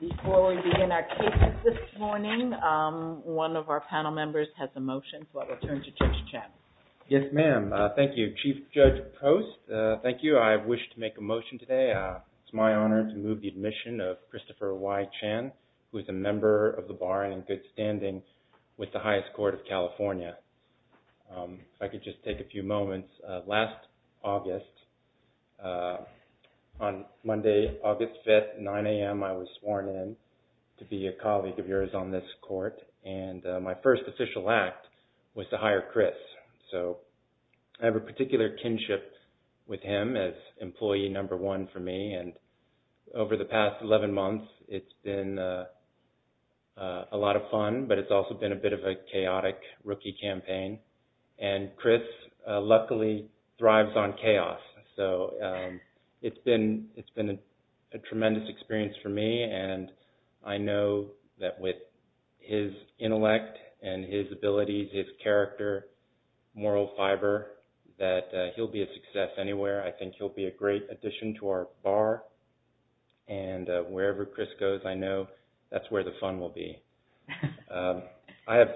Before we begin our cases this morning, one of our panel members has a motion, so I will turn to Judge Chan. Yes, ma'am. Thank you. Chief Judge Post, thank you. I wish to make a motion today. It's my honor to move the admission of Christopher Y. Chan, who is a member of the bar and in good standing with the highest court of California. If I could just take a few moments. Last August, on Monday, August 5th, 9 a.m., I was sworn in to be a colleague of yours on this court, and my first official act was to hire Chris. So I have a particular kinship with him as employee number one for me, and over the past 11 months, it's been a lot of fun, but it's also been a bit of a chaotic rookie campaign. And Chris, luckily, thrives on chaos. So it's been a tremendous experience for me, and I know that with his intellect and his abilities, his character, moral fiber, that he'll be a success anywhere. I think he'll be a great addition to our bar, and wherever Chris goes, I know that's where the fun will be.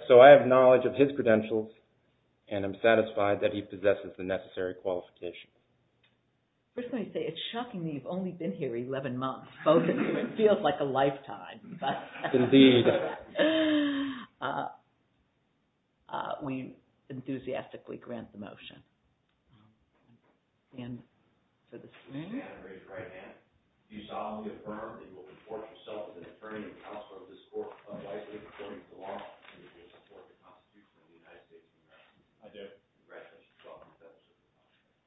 So I have knowledge of his credentials, and I'm satisfied that he possesses the necessary qualifications. I was going to say, it's shocking that you've only been here 11 months. It feels like a lifetime. Indeed. We enthusiastically grant the motion. We stand and raise a right hand. Do you solemnly affirm that you will report yourself as an attorney and counselor of this court, and that you will support the Constitution of the United States of America? I do. Congratulations.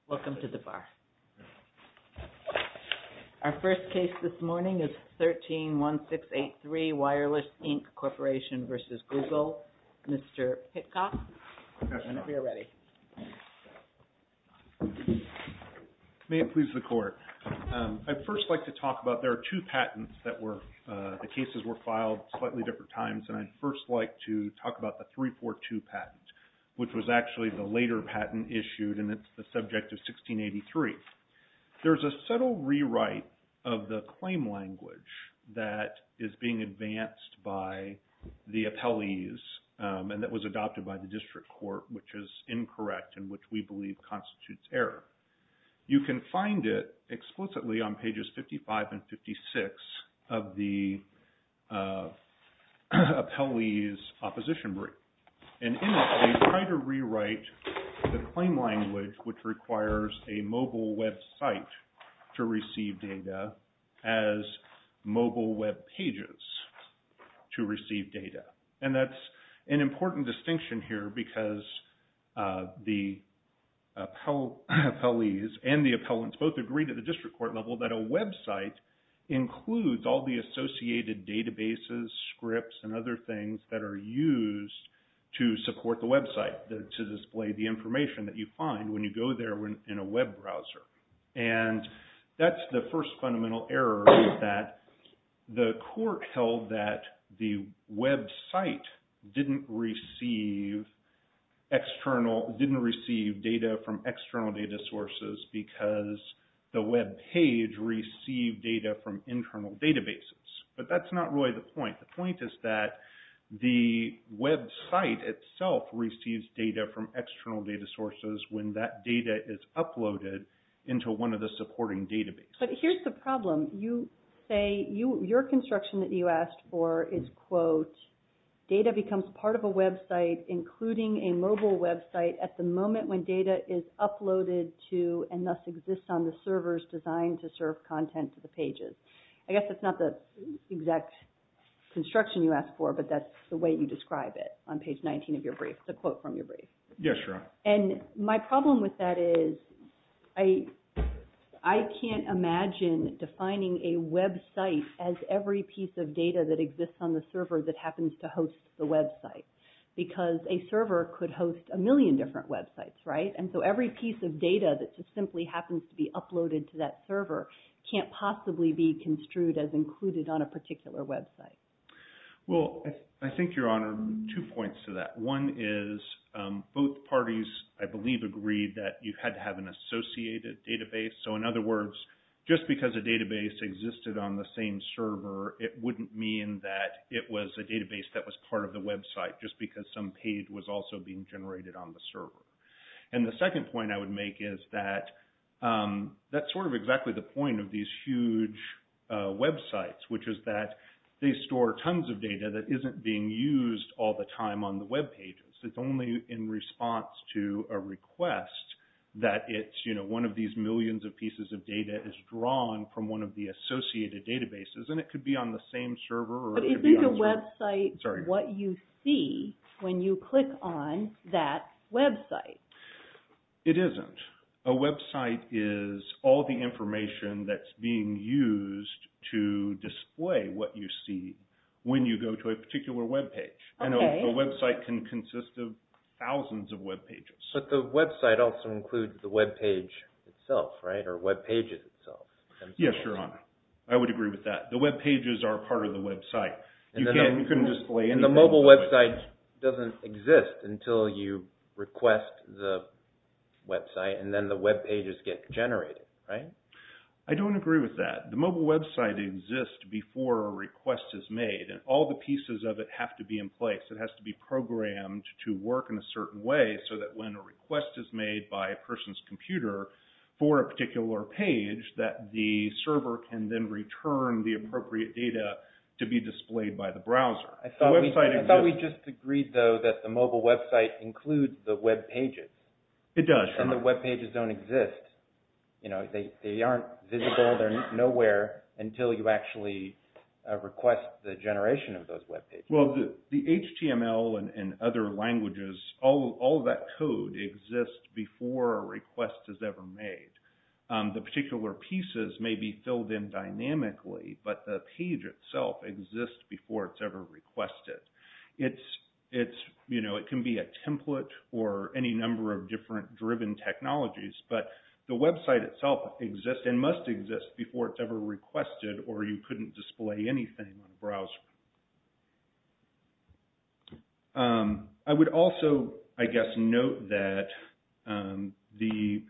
Welcome to the bar. Our first case this morning is 13-1683, Wireless Inc. Corporation v. Google. Mr. Hitchcock. We are ready. May it please the court. I'd first like to talk about, there are two patents that were, the cases were filed slightly different times, and I'd first like to talk about the 342 patent, which was actually the later patent issued, and it's the subject of 1683. There's a subtle rewrite of the claim language that is being advanced by the appellees, and that was adopted by the district court, which is incorrect, and which we believe constitutes error. You can find it explicitly on pages 55 and 56 of the appellees' opposition brief. And in it, they try to rewrite the claim language, which requires a mobile website to receive data, as mobile web pages to receive data. And that's an important distinction here, because the appellees and the appellants both agreed at the district court level that a website includes all the associated databases, scripts, and other things that are used to support the website, to display the information that you find when you go there in a web browser. And that's the first fundamental error, that the court held that the website didn't receive external, didn't receive data from external data sources, because the web page received data from internal databases. But that's not really the point. The point is that the website itself receives data from external data sources when that data is uploaded into one of the supporting databases. But here's the problem. You say your construction that you asked for is, quote, data becomes part of a website, including a mobile website, at the moment when data is uploaded to and thus exists on the servers designed to serve content to the pages. I guess that's not the exact construction you asked for, but that's the way you describe it on page 19 of your brief, the quote from your brief. Yes, Your Honor. And my problem with that is I can't imagine defining a website as every piece of data that exists on the server that happens to host the website, because a server could host a million different websites, right? And so every piece of data that just simply happens to be uploaded to that server can't possibly be construed as included on a particular website. Well, I think, Your Honor, two points to that. One is both parties, I believe, agreed that you had to have an associated database. So in other words, just because a database existed on the same server, it wouldn't mean that it was a database that was part of the website just because some page was also being generated on the server. And the second point I would make is that that's sort of exactly the point of these huge websites, which is that they store tons of data that isn't being used all the time on the web pages. It's only in response to a request that it's, you know, one of these millions of pieces of data is drawn from one of the associated databases. And it could be on the same server or it could be on two. But isn't a website what you see when you click on that website? It isn't. A website is all the information that's being used to display what you see when you go to a particular web page. And a website can consist of thousands of web pages. But the website also includes the web page itself, right, or web pages itself. Yes, Your Honor. I would agree with that. The web pages are part of the website. And the mobile website doesn't exist until you request the website and then the web pages get generated, right? I don't agree with that. The mobile website exists before a request is made. And all the pieces of it have to be in place. It has to be programmed to work in a certain way so that when a request is made by a person's computer for a particular page that the server can then return the appropriate data to be displayed by the browser. I thought we just agreed, though, that the mobile website includes the web pages. It does, Your Honor. And the web pages don't exist. They aren't visible. They're nowhere until you actually request the generation of those web pages. Well, the HTML and other languages, all of that code exists before a request is ever made. The particular pieces may be filled in dynamically, but the page itself exists before it's ever requested. It can be a template or any number of different driven technologies, but the website itself exists and must exist before it's ever requested or you couldn't display anything on a browser. I would also, I guess, note that the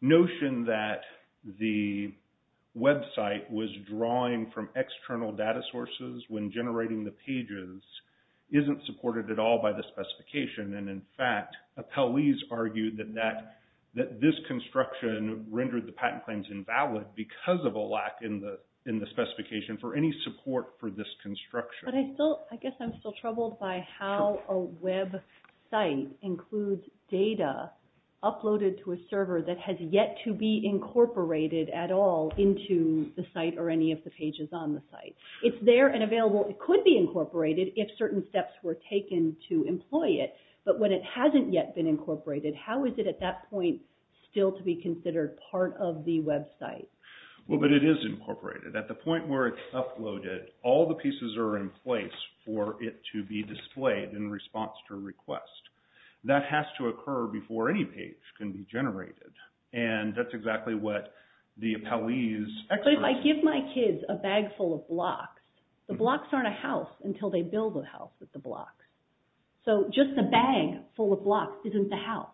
notion that the website was drawing from external data sources when generating the pages isn't supported at all by the specification. And, in fact, appellees argued that this construction rendered the patent claims invalid because of a lack in the specification for any support for this construction. But I still, I guess I'm still troubled by how a website includes data uploaded to a server that has yet to be incorporated at all into the site or any of the pages on the site. It's there and available. It could be incorporated if certain steps were taken to employ it, but when it hasn't yet been incorporated, how is it at that point still to be considered part of the website? Well, but it is incorporated. At the point where it's uploaded, all the pieces are in place for it to be displayed in response to a request. That has to occur before any page can be generated, and that's exactly what the appellee's experts… But if I give my kids a bag full of blocks, the blocks aren't a house until they build a house with the blocks. So just a bag full of blocks isn't the house.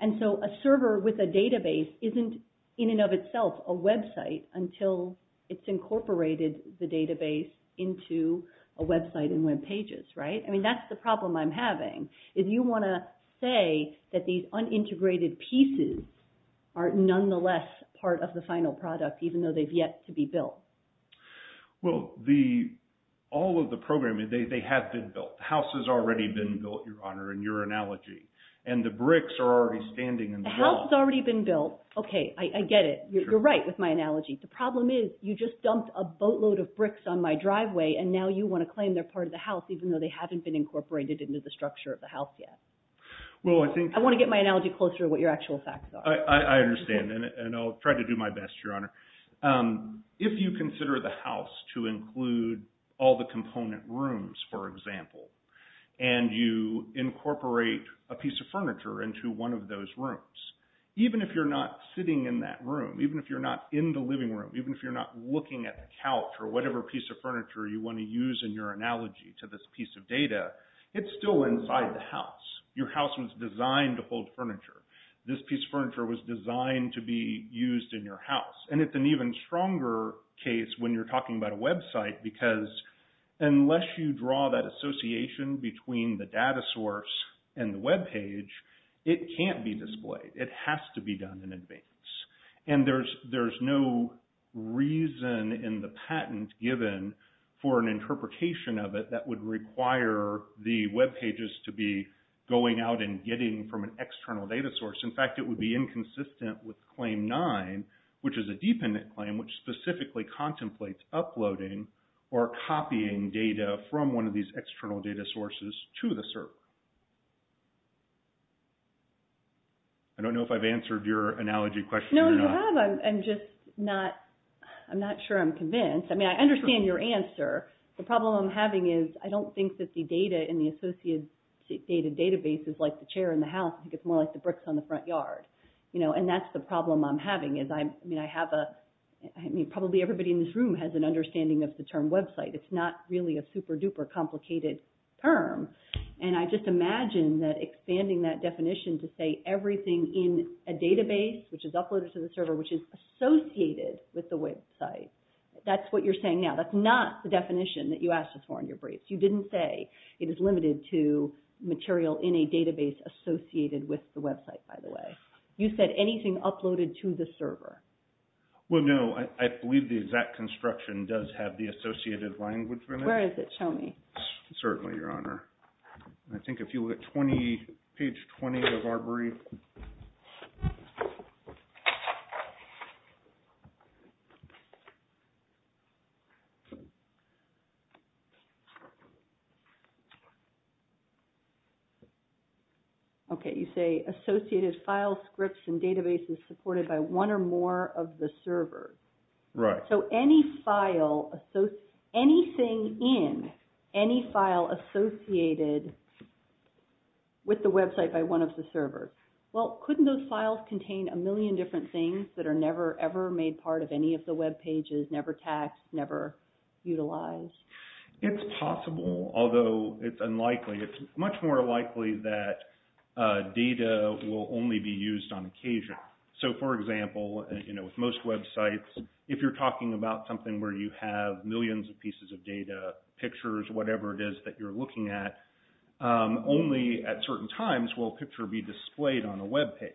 And so a server with a database isn't in and of itself a website until it's incorporated the database into a website and web pages, right? I mean, that's the problem I'm having. If you want to say that these unintegrated pieces are nonetheless part of the final product even though they've yet to be built. Well, all of the programming, they have been built. The house has already been built, Your Honor, in your analogy, and the bricks are already standing in the wall. The house has already been built. Okay, I get it. You're right with my analogy. The problem is you just dumped a boatload of bricks on my driveway, and now you want to claim they're part of the house even though they haven't been incorporated into the structure of the house yet. Well, I think… I want to get my analogy closer to what your actual facts are. I understand, and I'll try to do my best, Your Honor. If you consider the house to include all the component rooms, for example, and you incorporate a piece of furniture into one of those rooms, even if you're not sitting in that room, even if you're not in the living room, even if you're not looking at the couch or whatever piece of furniture you want to use in your analogy to this piece of data, it's still inside the house. Your house was designed to hold furniture. This piece of furniture was designed to be used in your house. And it's an even stronger case when you're talking about a website because unless you draw that association between the data source and the webpage, it can't be displayed. It has to be done in advance. And there's no reason in the patent given for an interpretation of it that would require the webpages to be going out and getting from an external data source. In fact, it would be inconsistent with Claim 9, which is a dependent claim, which specifically contemplates uploading or copying data from one of these external data sources to the server. I don't know if I've answered your analogy question or not. No, you have. I'm just not sure I'm convinced. I mean, I understand your answer. The problem I'm having is I don't think that the data in the associated data database is like the chair in the house. I think it's more like the bricks on the front yard. And that's the problem I'm having. I mean, probably everybody in this room has an understanding of the term website. It's not really a super-duper complicated term. And I just imagine that expanding that definition to say everything in a database, which is uploaded to the server, which is associated with the website. That's what you're saying now. That's not the definition that you asked us for in your brief. You didn't say it is limited to material in a database associated with the website, by the way. You said anything uploaded to the server. Well, no. I believe the exact construction does have the associated language in it. Where is it? Show me. Certainly, Your Honor. I think if you look at page 20 of our brief. Okay. You say associated file scripts and databases supported by one or more of the servers. Right. So anything in any file associated with the website by one of the servers. Well, couldn't those files contain a million different things that are never, ever made part of any of the webpages, never tagged, never utilized? It's possible, although it's unlikely. It's much more likely that data will only be used on occasion. So, for example, with most websites, if you're talking about something where you have millions of pieces of data, pictures, whatever it is that you're looking at, only at certain times will a picture be displayed on a webpage.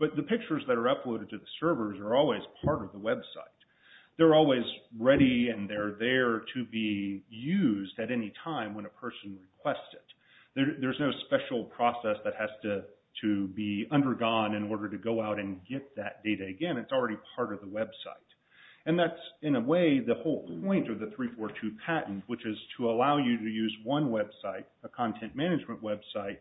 But the pictures that are uploaded to the servers are always part of the website. They're always ready and they're there to be used at any time when a person requests it. There's no special process that has to be undergone in order to go out and get that data again. It's already part of the website. And that's, in a way, the whole point of the 342 patent, which is to allow you to use one website, a content management website,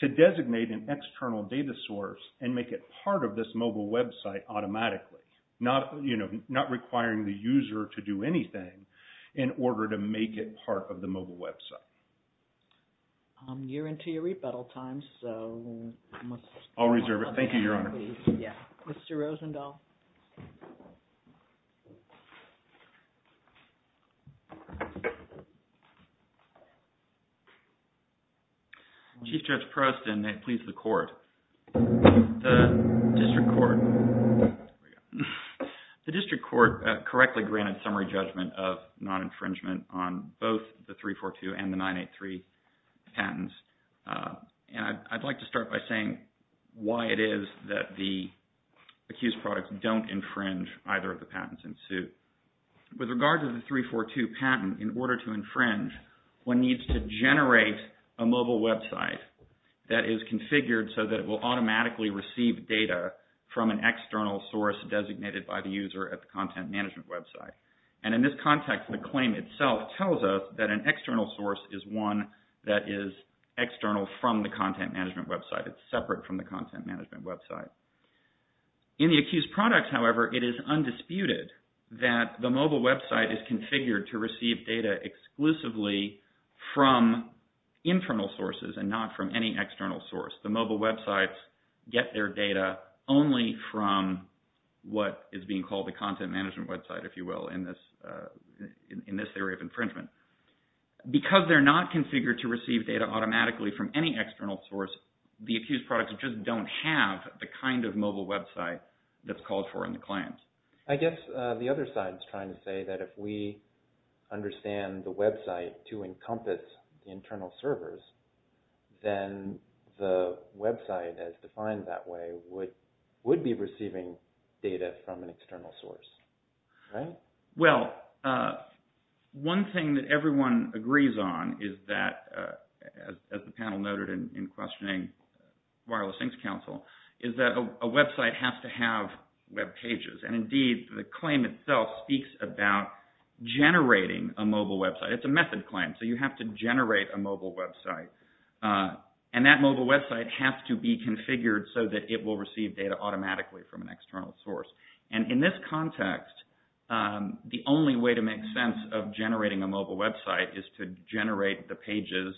to designate an external data source and make it part of this mobile website automatically, not requiring the user to do anything in order to make it part of the mobile website. I'm nearing to your rebuttal time, so... I'll reserve it. Thank you, Your Honor. Mr. Rosendahl. Chief Judge Preston, may it please the court, the district court. The district court correctly granted summary judgment of non-infringement on both the 342 and the 983 patents. And I'd like to start by saying why it is that the accused products don't infringe either of the patents in suit. With regard to the 342 patent, in order to infringe, one needs to generate a mobile website that is configured so that it will automatically receive data from an external source designated by the user at the content management website. And in this context, the claim itself tells us that an external source is one that is external from the content management website. It's separate from the content management website. In the accused products, however, it is undisputed that the mobile website is configured to receive data exclusively from internal sources and not from any external source. The mobile websites get their data only from what is being called the content management website, if you will, in this theory of infringement. Because they're not configured to receive data automatically from any external source, the accused products just don't have the kind of mobile website that's called for in the claims. I guess the other side is trying to say that if we understand the website to encompass internal servers, then the website, as defined that way, would be receiving data from an external source, right? Well, one thing that everyone agrees on is that, as the panel noted in questioning Wireless Sinks Council, is that a website has to have web pages. And indeed, the claim itself speaks about generating a mobile website. It's a method claim, so you have to generate a mobile website. And that mobile website has to be configured so that it will receive data automatically from an external source. And in this context, the only way to make sense of generating a mobile website is to generate the pages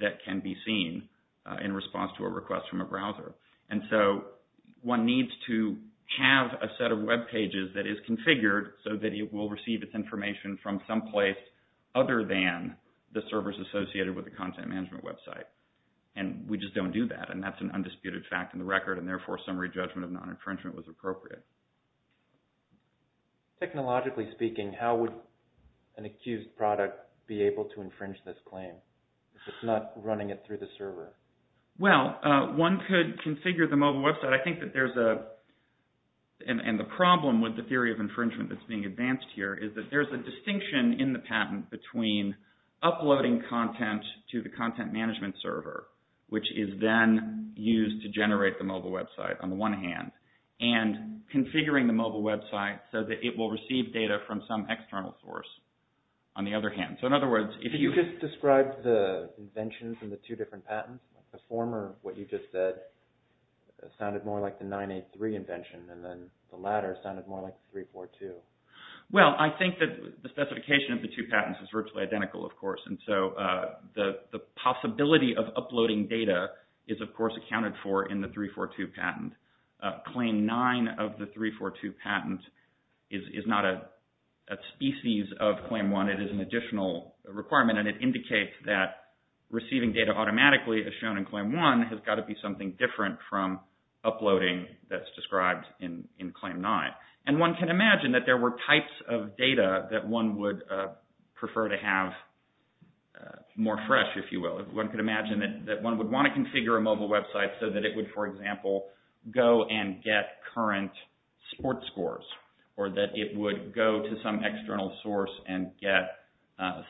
that can be seen in response to a request from a browser. And so one needs to have a set of web pages that is configured so that it will receive its information from someplace other than the servers associated with the content management website. And we just don't do that, and that's an undisputed fact in the record, and therefore summary judgment of non-infringement was appropriate. Technologically speaking, how would an accused product be able to infringe this claim if it's not running it through the server? Well, one could configure the mobile website. I think that there's a – and the problem with the theory of infringement that's being advanced here is that there's a distinction in the patent between uploading content to the content management server, which is then used to generate the mobile website on the one hand, and configuring the mobile website so that it will receive data from some external source on the other hand. So in other words, if you – You just described the inventions in the two different patents. The former, what you just said, sounded more like the 983 invention, and then the latter sounded more like the 342. Well, I think that the specification of the two patents is virtually identical, of course, and so the possibility of uploading data is, of course, accounted for in the 342 patent. Claim 9 of the 342 patent is not a species of Claim 1. It is an additional requirement, and it indicates that receiving data automatically, as shown in Claim 1, has got to be something different from uploading that's described in Claim 9. And one can imagine that there were types of data that one would prefer to have more fresh, if you will. One could imagine that one would want to configure a mobile website so that it would, for example, go and get current sports scores, or that it would go to some external source and get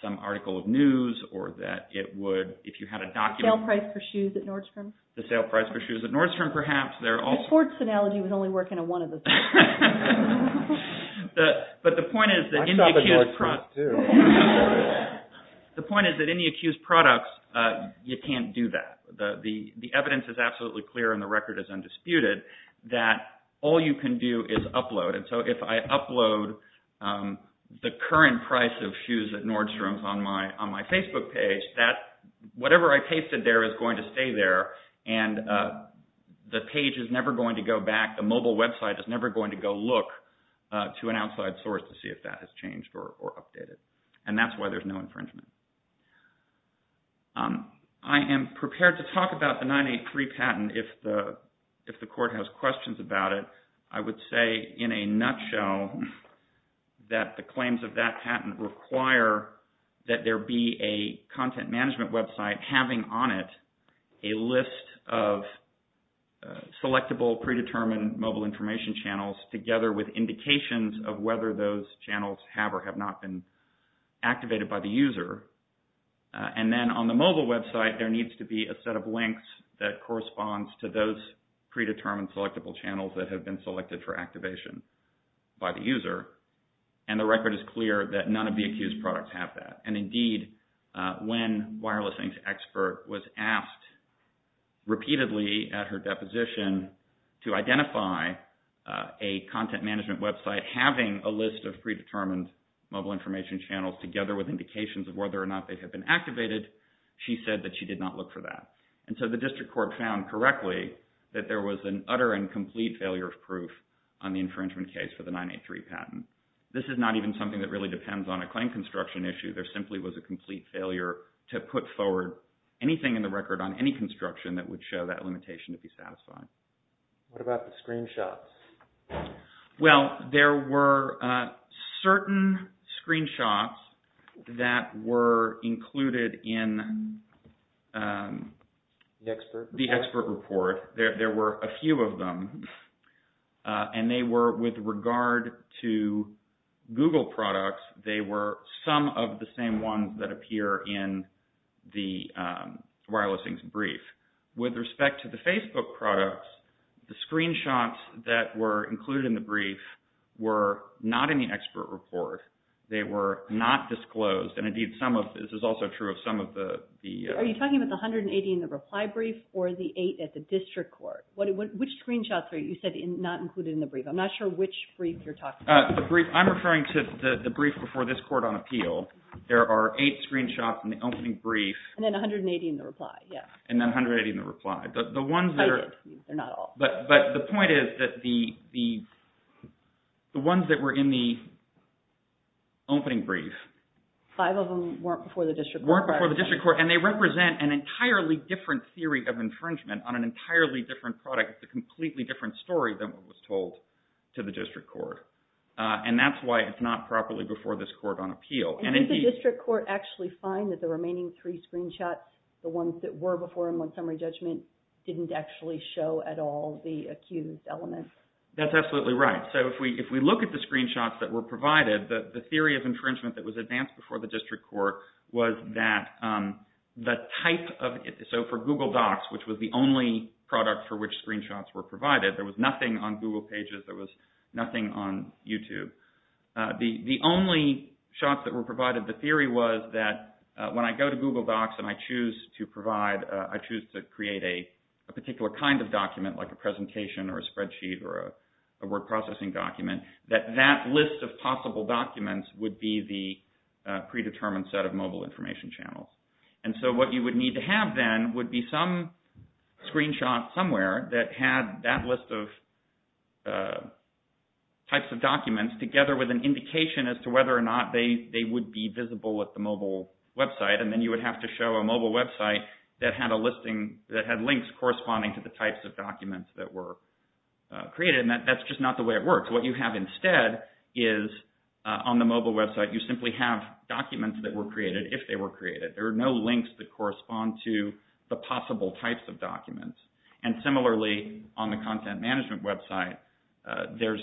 some article of news, or that it would, if you had a document – The sale price for shoes at Nordstrom? The sale price for shoes at Nordstrom, perhaps. The sports analogy was only working on one of the three. But the point is that in the accused products, you can't do that. The evidence is absolutely clear, and the record is undisputed, that all you can do is upload. And so if I upload the current price of shoes at Nordstrom on my Facebook page, whatever I pasted there is going to stay there, and the page is never going to go back. The mobile website is never going to go look to an outside source to see if that has changed or updated. And that's why there's no infringement. I am prepared to talk about the 983 patent if the court has questions about it. I would say in a nutshell that the claims of that patent require that there be a content management website having on it a list of selectable, predetermined mobile information channels together with indications of whether those channels have or have not been activated by the user. And then on the mobile website, there needs to be a set of links that corresponds to those predetermined selectable channels that have been selected for activation by the user. And the record is clear that none of the accused products have that. And indeed, when Wireless Inc.'s expert was asked repeatedly at her deposition to identify a content management website having a list of predetermined mobile information channels together with indications of whether or not they have been activated, she said that she did not look for that. And so the district court found correctly that there was an utter and complete failure of proof on the infringement case for the 983 patent. This is not even something that really depends on a claim construction issue. There simply was a complete failure to put forward anything in the record on any construction that would show that limitation to be satisfied. What about the screenshots? Well, there were certain screenshots that were included in the expert report. There were a few of them. And they were with regard to Google products, they were some of the same ones that appear in the Wireless Inc.'s brief. With respect to the Facebook products, the screenshots that were included in the brief were not in the expert report. They were not disclosed. And indeed, some of this is also true of some of the... Which screenshots are you saying are not included in the brief? I'm not sure which brief you're talking about. I'm referring to the brief before this court on appeal. There are eight screenshots in the opening brief. And then 180 in the reply, yes. And then 180 in the reply. The ones that are... They're not all. But the point is that the ones that were in the opening brief... Five of them weren't before the district court. Weren't before the district court. And they represent an entirely different theory of infringement on an entirely different product. It's a completely different story than what was told to the district court. And that's why it's not properly before this court on appeal. And did the district court actually find that the remaining three screenshots, the ones that were before in one summary judgment, didn't actually show at all the accused element? That's absolutely right. So if we look at the screenshots that were provided, the theory of infringement that was advanced before the district court was that the type of... So for Google Docs, which was the only product for which screenshots were provided, there was nothing on Google Pages. There was nothing on YouTube. The only shots that were provided, the theory was that when I go to Google Docs and I choose to provide, I choose to create a particular kind of document, like a presentation or a spreadsheet or a word processing document, that that list of possible documents would be the predetermined set of mobile information channels. And so what you would need to have then would be some screenshot somewhere that had that list of types of documents together with an indication as to whether or not they would be visible at the mobile website. And then you would have to show a mobile website that had a listing, that had links corresponding to the types of documents that were created. And that's just not the way it works. What you have instead is, on the mobile website, you simply have documents that were created if they were created. There are no links that correspond to the possible types of documents. And similarly, on the content management website, there's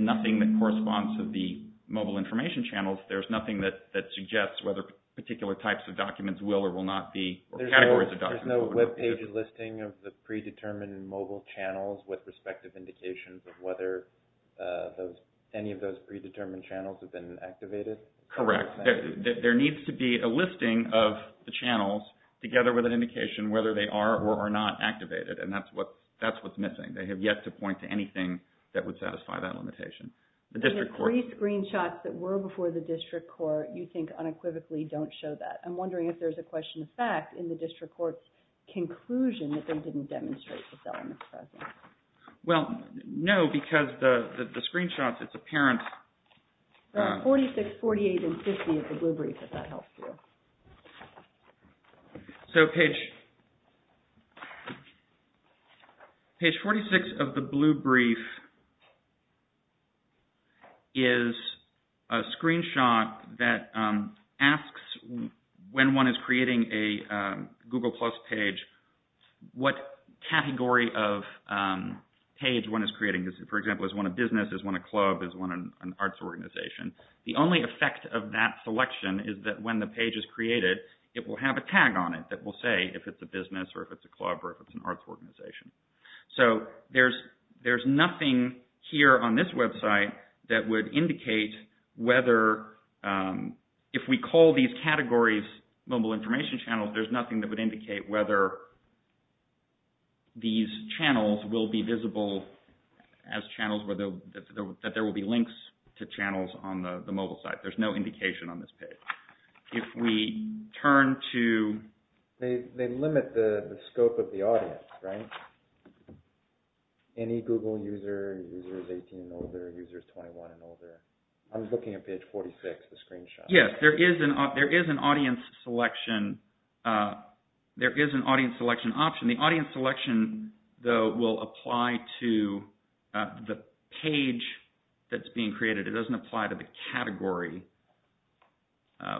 nothing that corresponds to the mobile information channels. There's nothing that suggests whether particular types of documents will or will not be... There's no web page listing of the predetermined mobile channels with respective indications of whether any of those predetermined channels have been activated. Correct. There needs to be a listing of the channels together with an indication whether they are or are not activated. And that's what's missing. They have yet to point to anything that would satisfy that limitation. The district court... The three screenshots that were before the district court you think unequivocally don't show that. I'm wondering if there's a question of fact in the district court's conclusion that they didn't demonstrate the elements present. Well, no, because the screenshots, it's apparent... Page 46, 48, and 50 of the Blue Brief, if that helps you. So, page... Page 46 of the Blue Brief is a screenshot that asks when one is creating a Google Plus page, what category of page one is creating. For example, is one a business, is one a club, is one an arts organization? The only effect of that selection is that when the page is created, it will have a tag on it that will say if it's a business or if it's a club or if it's an arts organization. So, there's nothing here on this website that would indicate whether... In the categories, mobile information channels, there's nothing that would indicate whether these channels will be visible as channels, that there will be links to channels on the mobile site. There's no indication on this page. If we turn to... They limit the scope of the audience, right? Any Google user, users 18 and older, users 21 and older. I'm looking at page 46, the screenshot. Yes, there is an audience selection... There is an audience selection option. The audience selection, though, will apply to the page that's being created. It doesn't apply to the category,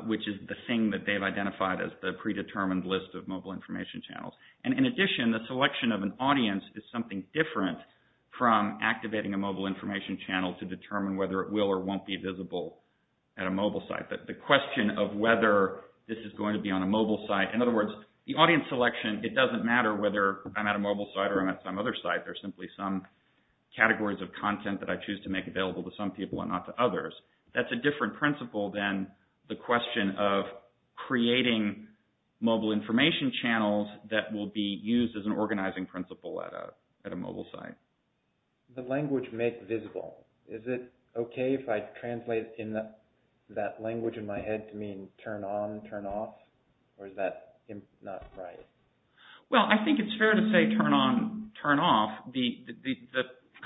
which is the thing that they've identified as the predetermined list of mobile information channels. And in addition, the selection of an audience is something different from activating a mobile information channel to determine whether it will or won't be visible at a mobile site. The question of whether this is going to be on a mobile site... In other words, the audience selection, it doesn't matter whether I'm at a mobile site or I'm at some other site. There's simply some categories of content that I choose to make available to some people and not to others. That's a different principle than the question of creating mobile information channels that will be used as an organizing principle at a mobile site. The language make visible. Is it okay if I translate that language in my head to mean turn on, turn off? Or is that not right? Well, I think it's fair to say turn on, turn off. The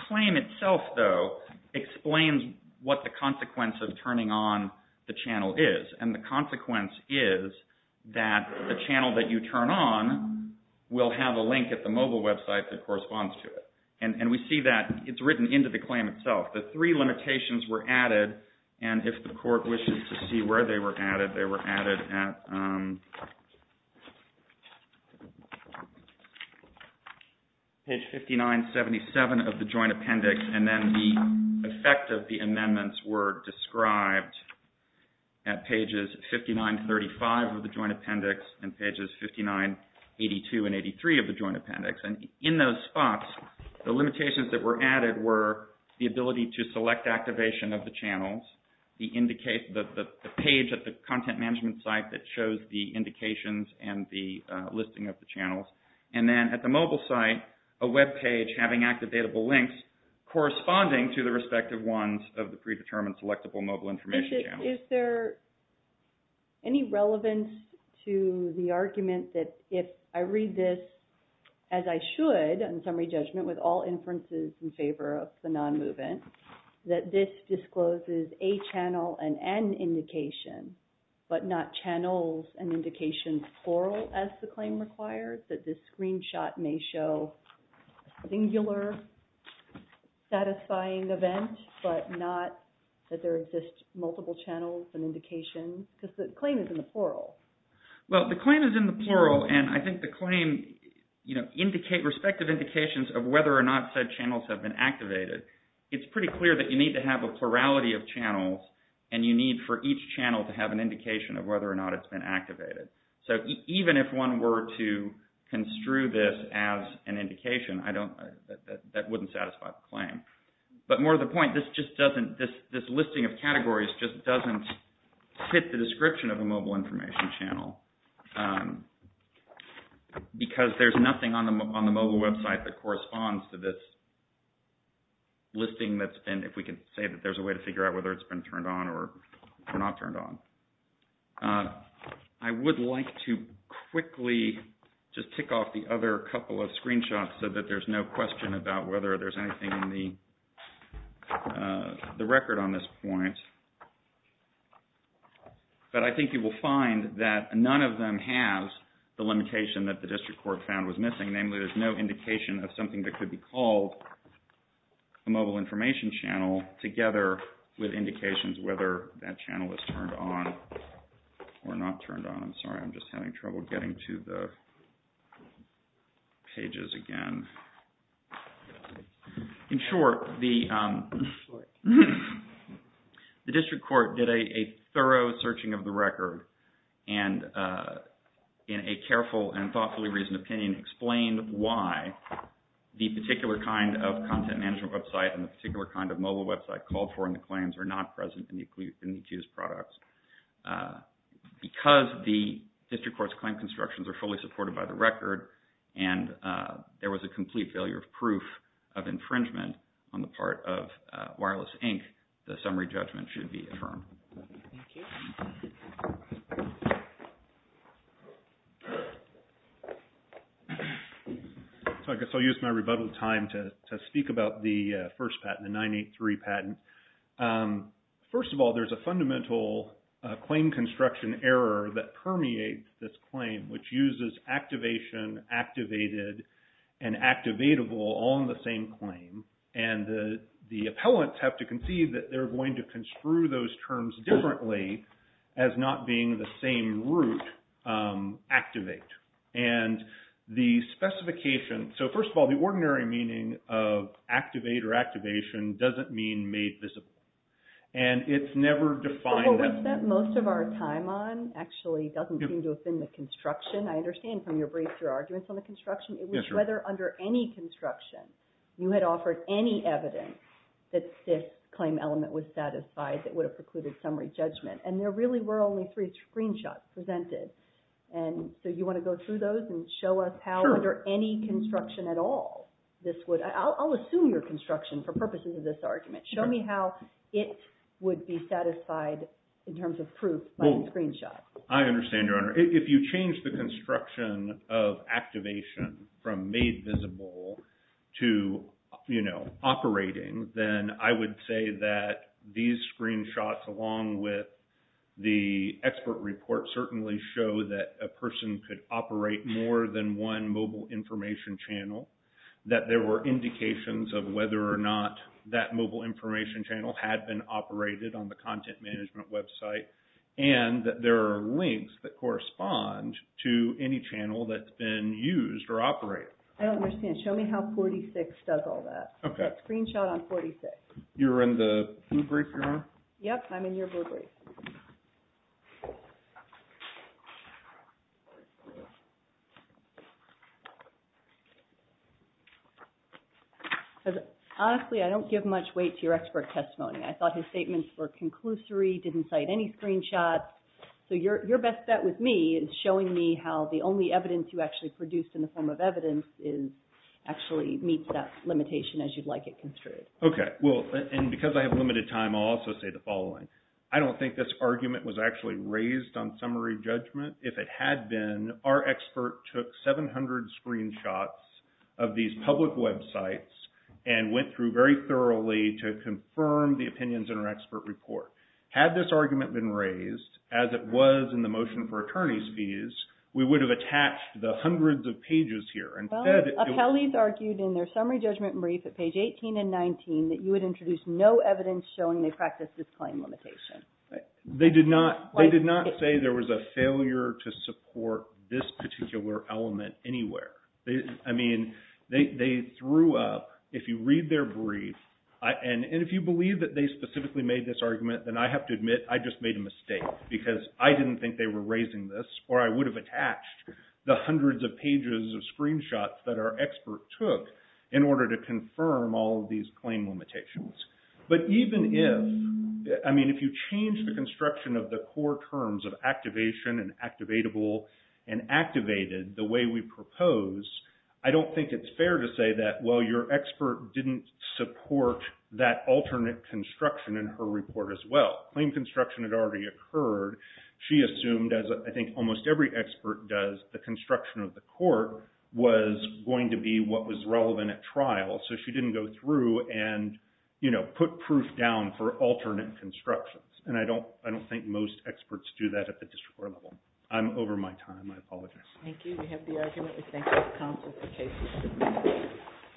claim itself, though, explains what the consequence of turning on the channel is. And the consequence is that the channel that you turn on will have a link at the mobile website that corresponds to it. And we see that it's written into the claim itself. The three limitations were added. And if the court wishes to see where they were added, they were added at page 5977 of the Joint Appendix. And then the effect of the amendments were described at pages 5935 of the Joint Appendix and pages 5982 and 83 of the Joint Appendix. And in those spots, the limitations that were added were the ability to select activation of the channels, the page at the content management site that shows the indications and the listing of the channels, and then at the mobile site, a web page having activatable links corresponding to the respective ones of the predetermined selectable mobile information channels. Is there any relevance to the argument that if I read this as I should, in summary judgment with all inferences in favor of the non-movement, that this discloses a channel and an indication, but not channels and indications plural as the claim requires, that this screenshot may show a singular satisfying event, but not that there exist multiple channels and indications? Because the claim is in the plural. Well, the claim is in the plural. And I think the claim indicate respective indications of whether or not said channels have been activated. It's pretty clear that you need to have a plurality of channels, and you need for each channel to have an indication of whether or not it's been activated. So even if one were to construe this as an indication, I don't, that wouldn't satisfy the claim. But more to the point, this just doesn't, this listing of categories just doesn't fit the description of a mobile information channel. Because there's nothing on the mobile website that corresponds to this listing that's been, if we can say that there's a way to figure out whether it's been turned on or not turned on. I would like to quickly just tick off the other couple of screenshots so that there's no question about whether there's anything in the record on this point. But I think you will find that none of them has the limitation that the district court found was missing. Namely, there's no indication of something that could be called a mobile information channel together with indications whether that channel is turned on or not turned on. I'm sorry, I'm just having trouble getting to the pages again. In short, the district court did a thorough searching of the record and in a careful and thoughtfully reasoned opinion, explained why the particular kind of content management website and the particular kind of mobile website called for in the claims are not present in the accused products. Because the district court's claim constructions are fully supported by the record and there was a complete failure of proof of infringement on the part of Wireless Inc., the summary judgment should be affirmed. Thank you. So I guess I'll use my rebuttal time to speak about the first patent, the 983 patent. First of all, there's a fundamental claim construction error that permeates this claim which uses activation, activated, and activatable on the same claim. And the appellants have to concede that they're going to construe those terms differently as not being the same root, activate. And the specification, so first of all, the ordinary meaning of activate or activation doesn't mean made visible. And it's never defined. What we spent most of our time on actually doesn't seem to have been the construction. I understand from your brief, your arguments on the construction, it was whether under any construction you had offered any evidence that this claim element was satisfied that would have precluded summary judgment. And there really were only three screenshots presented. And so you want to go through those and show us how under any construction at all this would – I'll assume your construction for purposes of this argument. Show me how it would be satisfied in terms of proof by the screenshot. I understand, Your Honor. If you change the construction of activation from made visible to operating, then I would say that these screenshots along with the expert report certainly show that a person could operate more than one mobile information channel, that there were indications of whether or not that mobile information channel had been operated on the content management website, and that there are links that correspond to any channel that's been used or operated. I don't understand. Show me how 46 does all that. Okay. Screenshot on 46. You're in the blue brief, Your Honor? Yep, I'm in your blue brief. Honestly, I don't give much weight to your expert testimony. I thought his statements were conclusory, didn't cite any screenshots. So your best bet with me is showing me how the only evidence you actually produced in the form of evidence actually meets that limitation as you'd like it construed. Okay. Well, and because I have limited time, I'll also say the following. I don't think this argument was actually raised on summary judgment. If it had been, our expert took 700 screenshots of these public websites and went through very thoroughly to confirm the opinions in our expert report. Had this argument been raised as it was in the motion for attorney's fees, we would have attached the hundreds of pages here. Appellees argued in their summary judgment brief at page 18 and 19 that you had introduced no evidence showing they practiced this claim limitation. They did not say there was a failure to support this particular element anywhere. I mean, they threw up, if you read their brief, and if you believe that they specifically made this argument, then I have to admit I just made a mistake because I didn't think they were raising this or I would have attached the hundreds of pages of screenshots that our expert took in order to confirm all of these claim limitations. But even if, I mean, if you change the construction of the core terms of activation and activatable and activated the way we propose, I don't think it's fair to say that, well, your expert didn't support that alternate construction in her report as well. Claim construction had already occurred. She assumed, as I think almost every expert does, the construction of the court was going to be what was relevant at trial, so she didn't go through and put proof down for alternate constructions, and I don't think most experts do that at the district court level. I'm over my time. I apologize. Thank you. We have the argument. We thank the counsel for cases.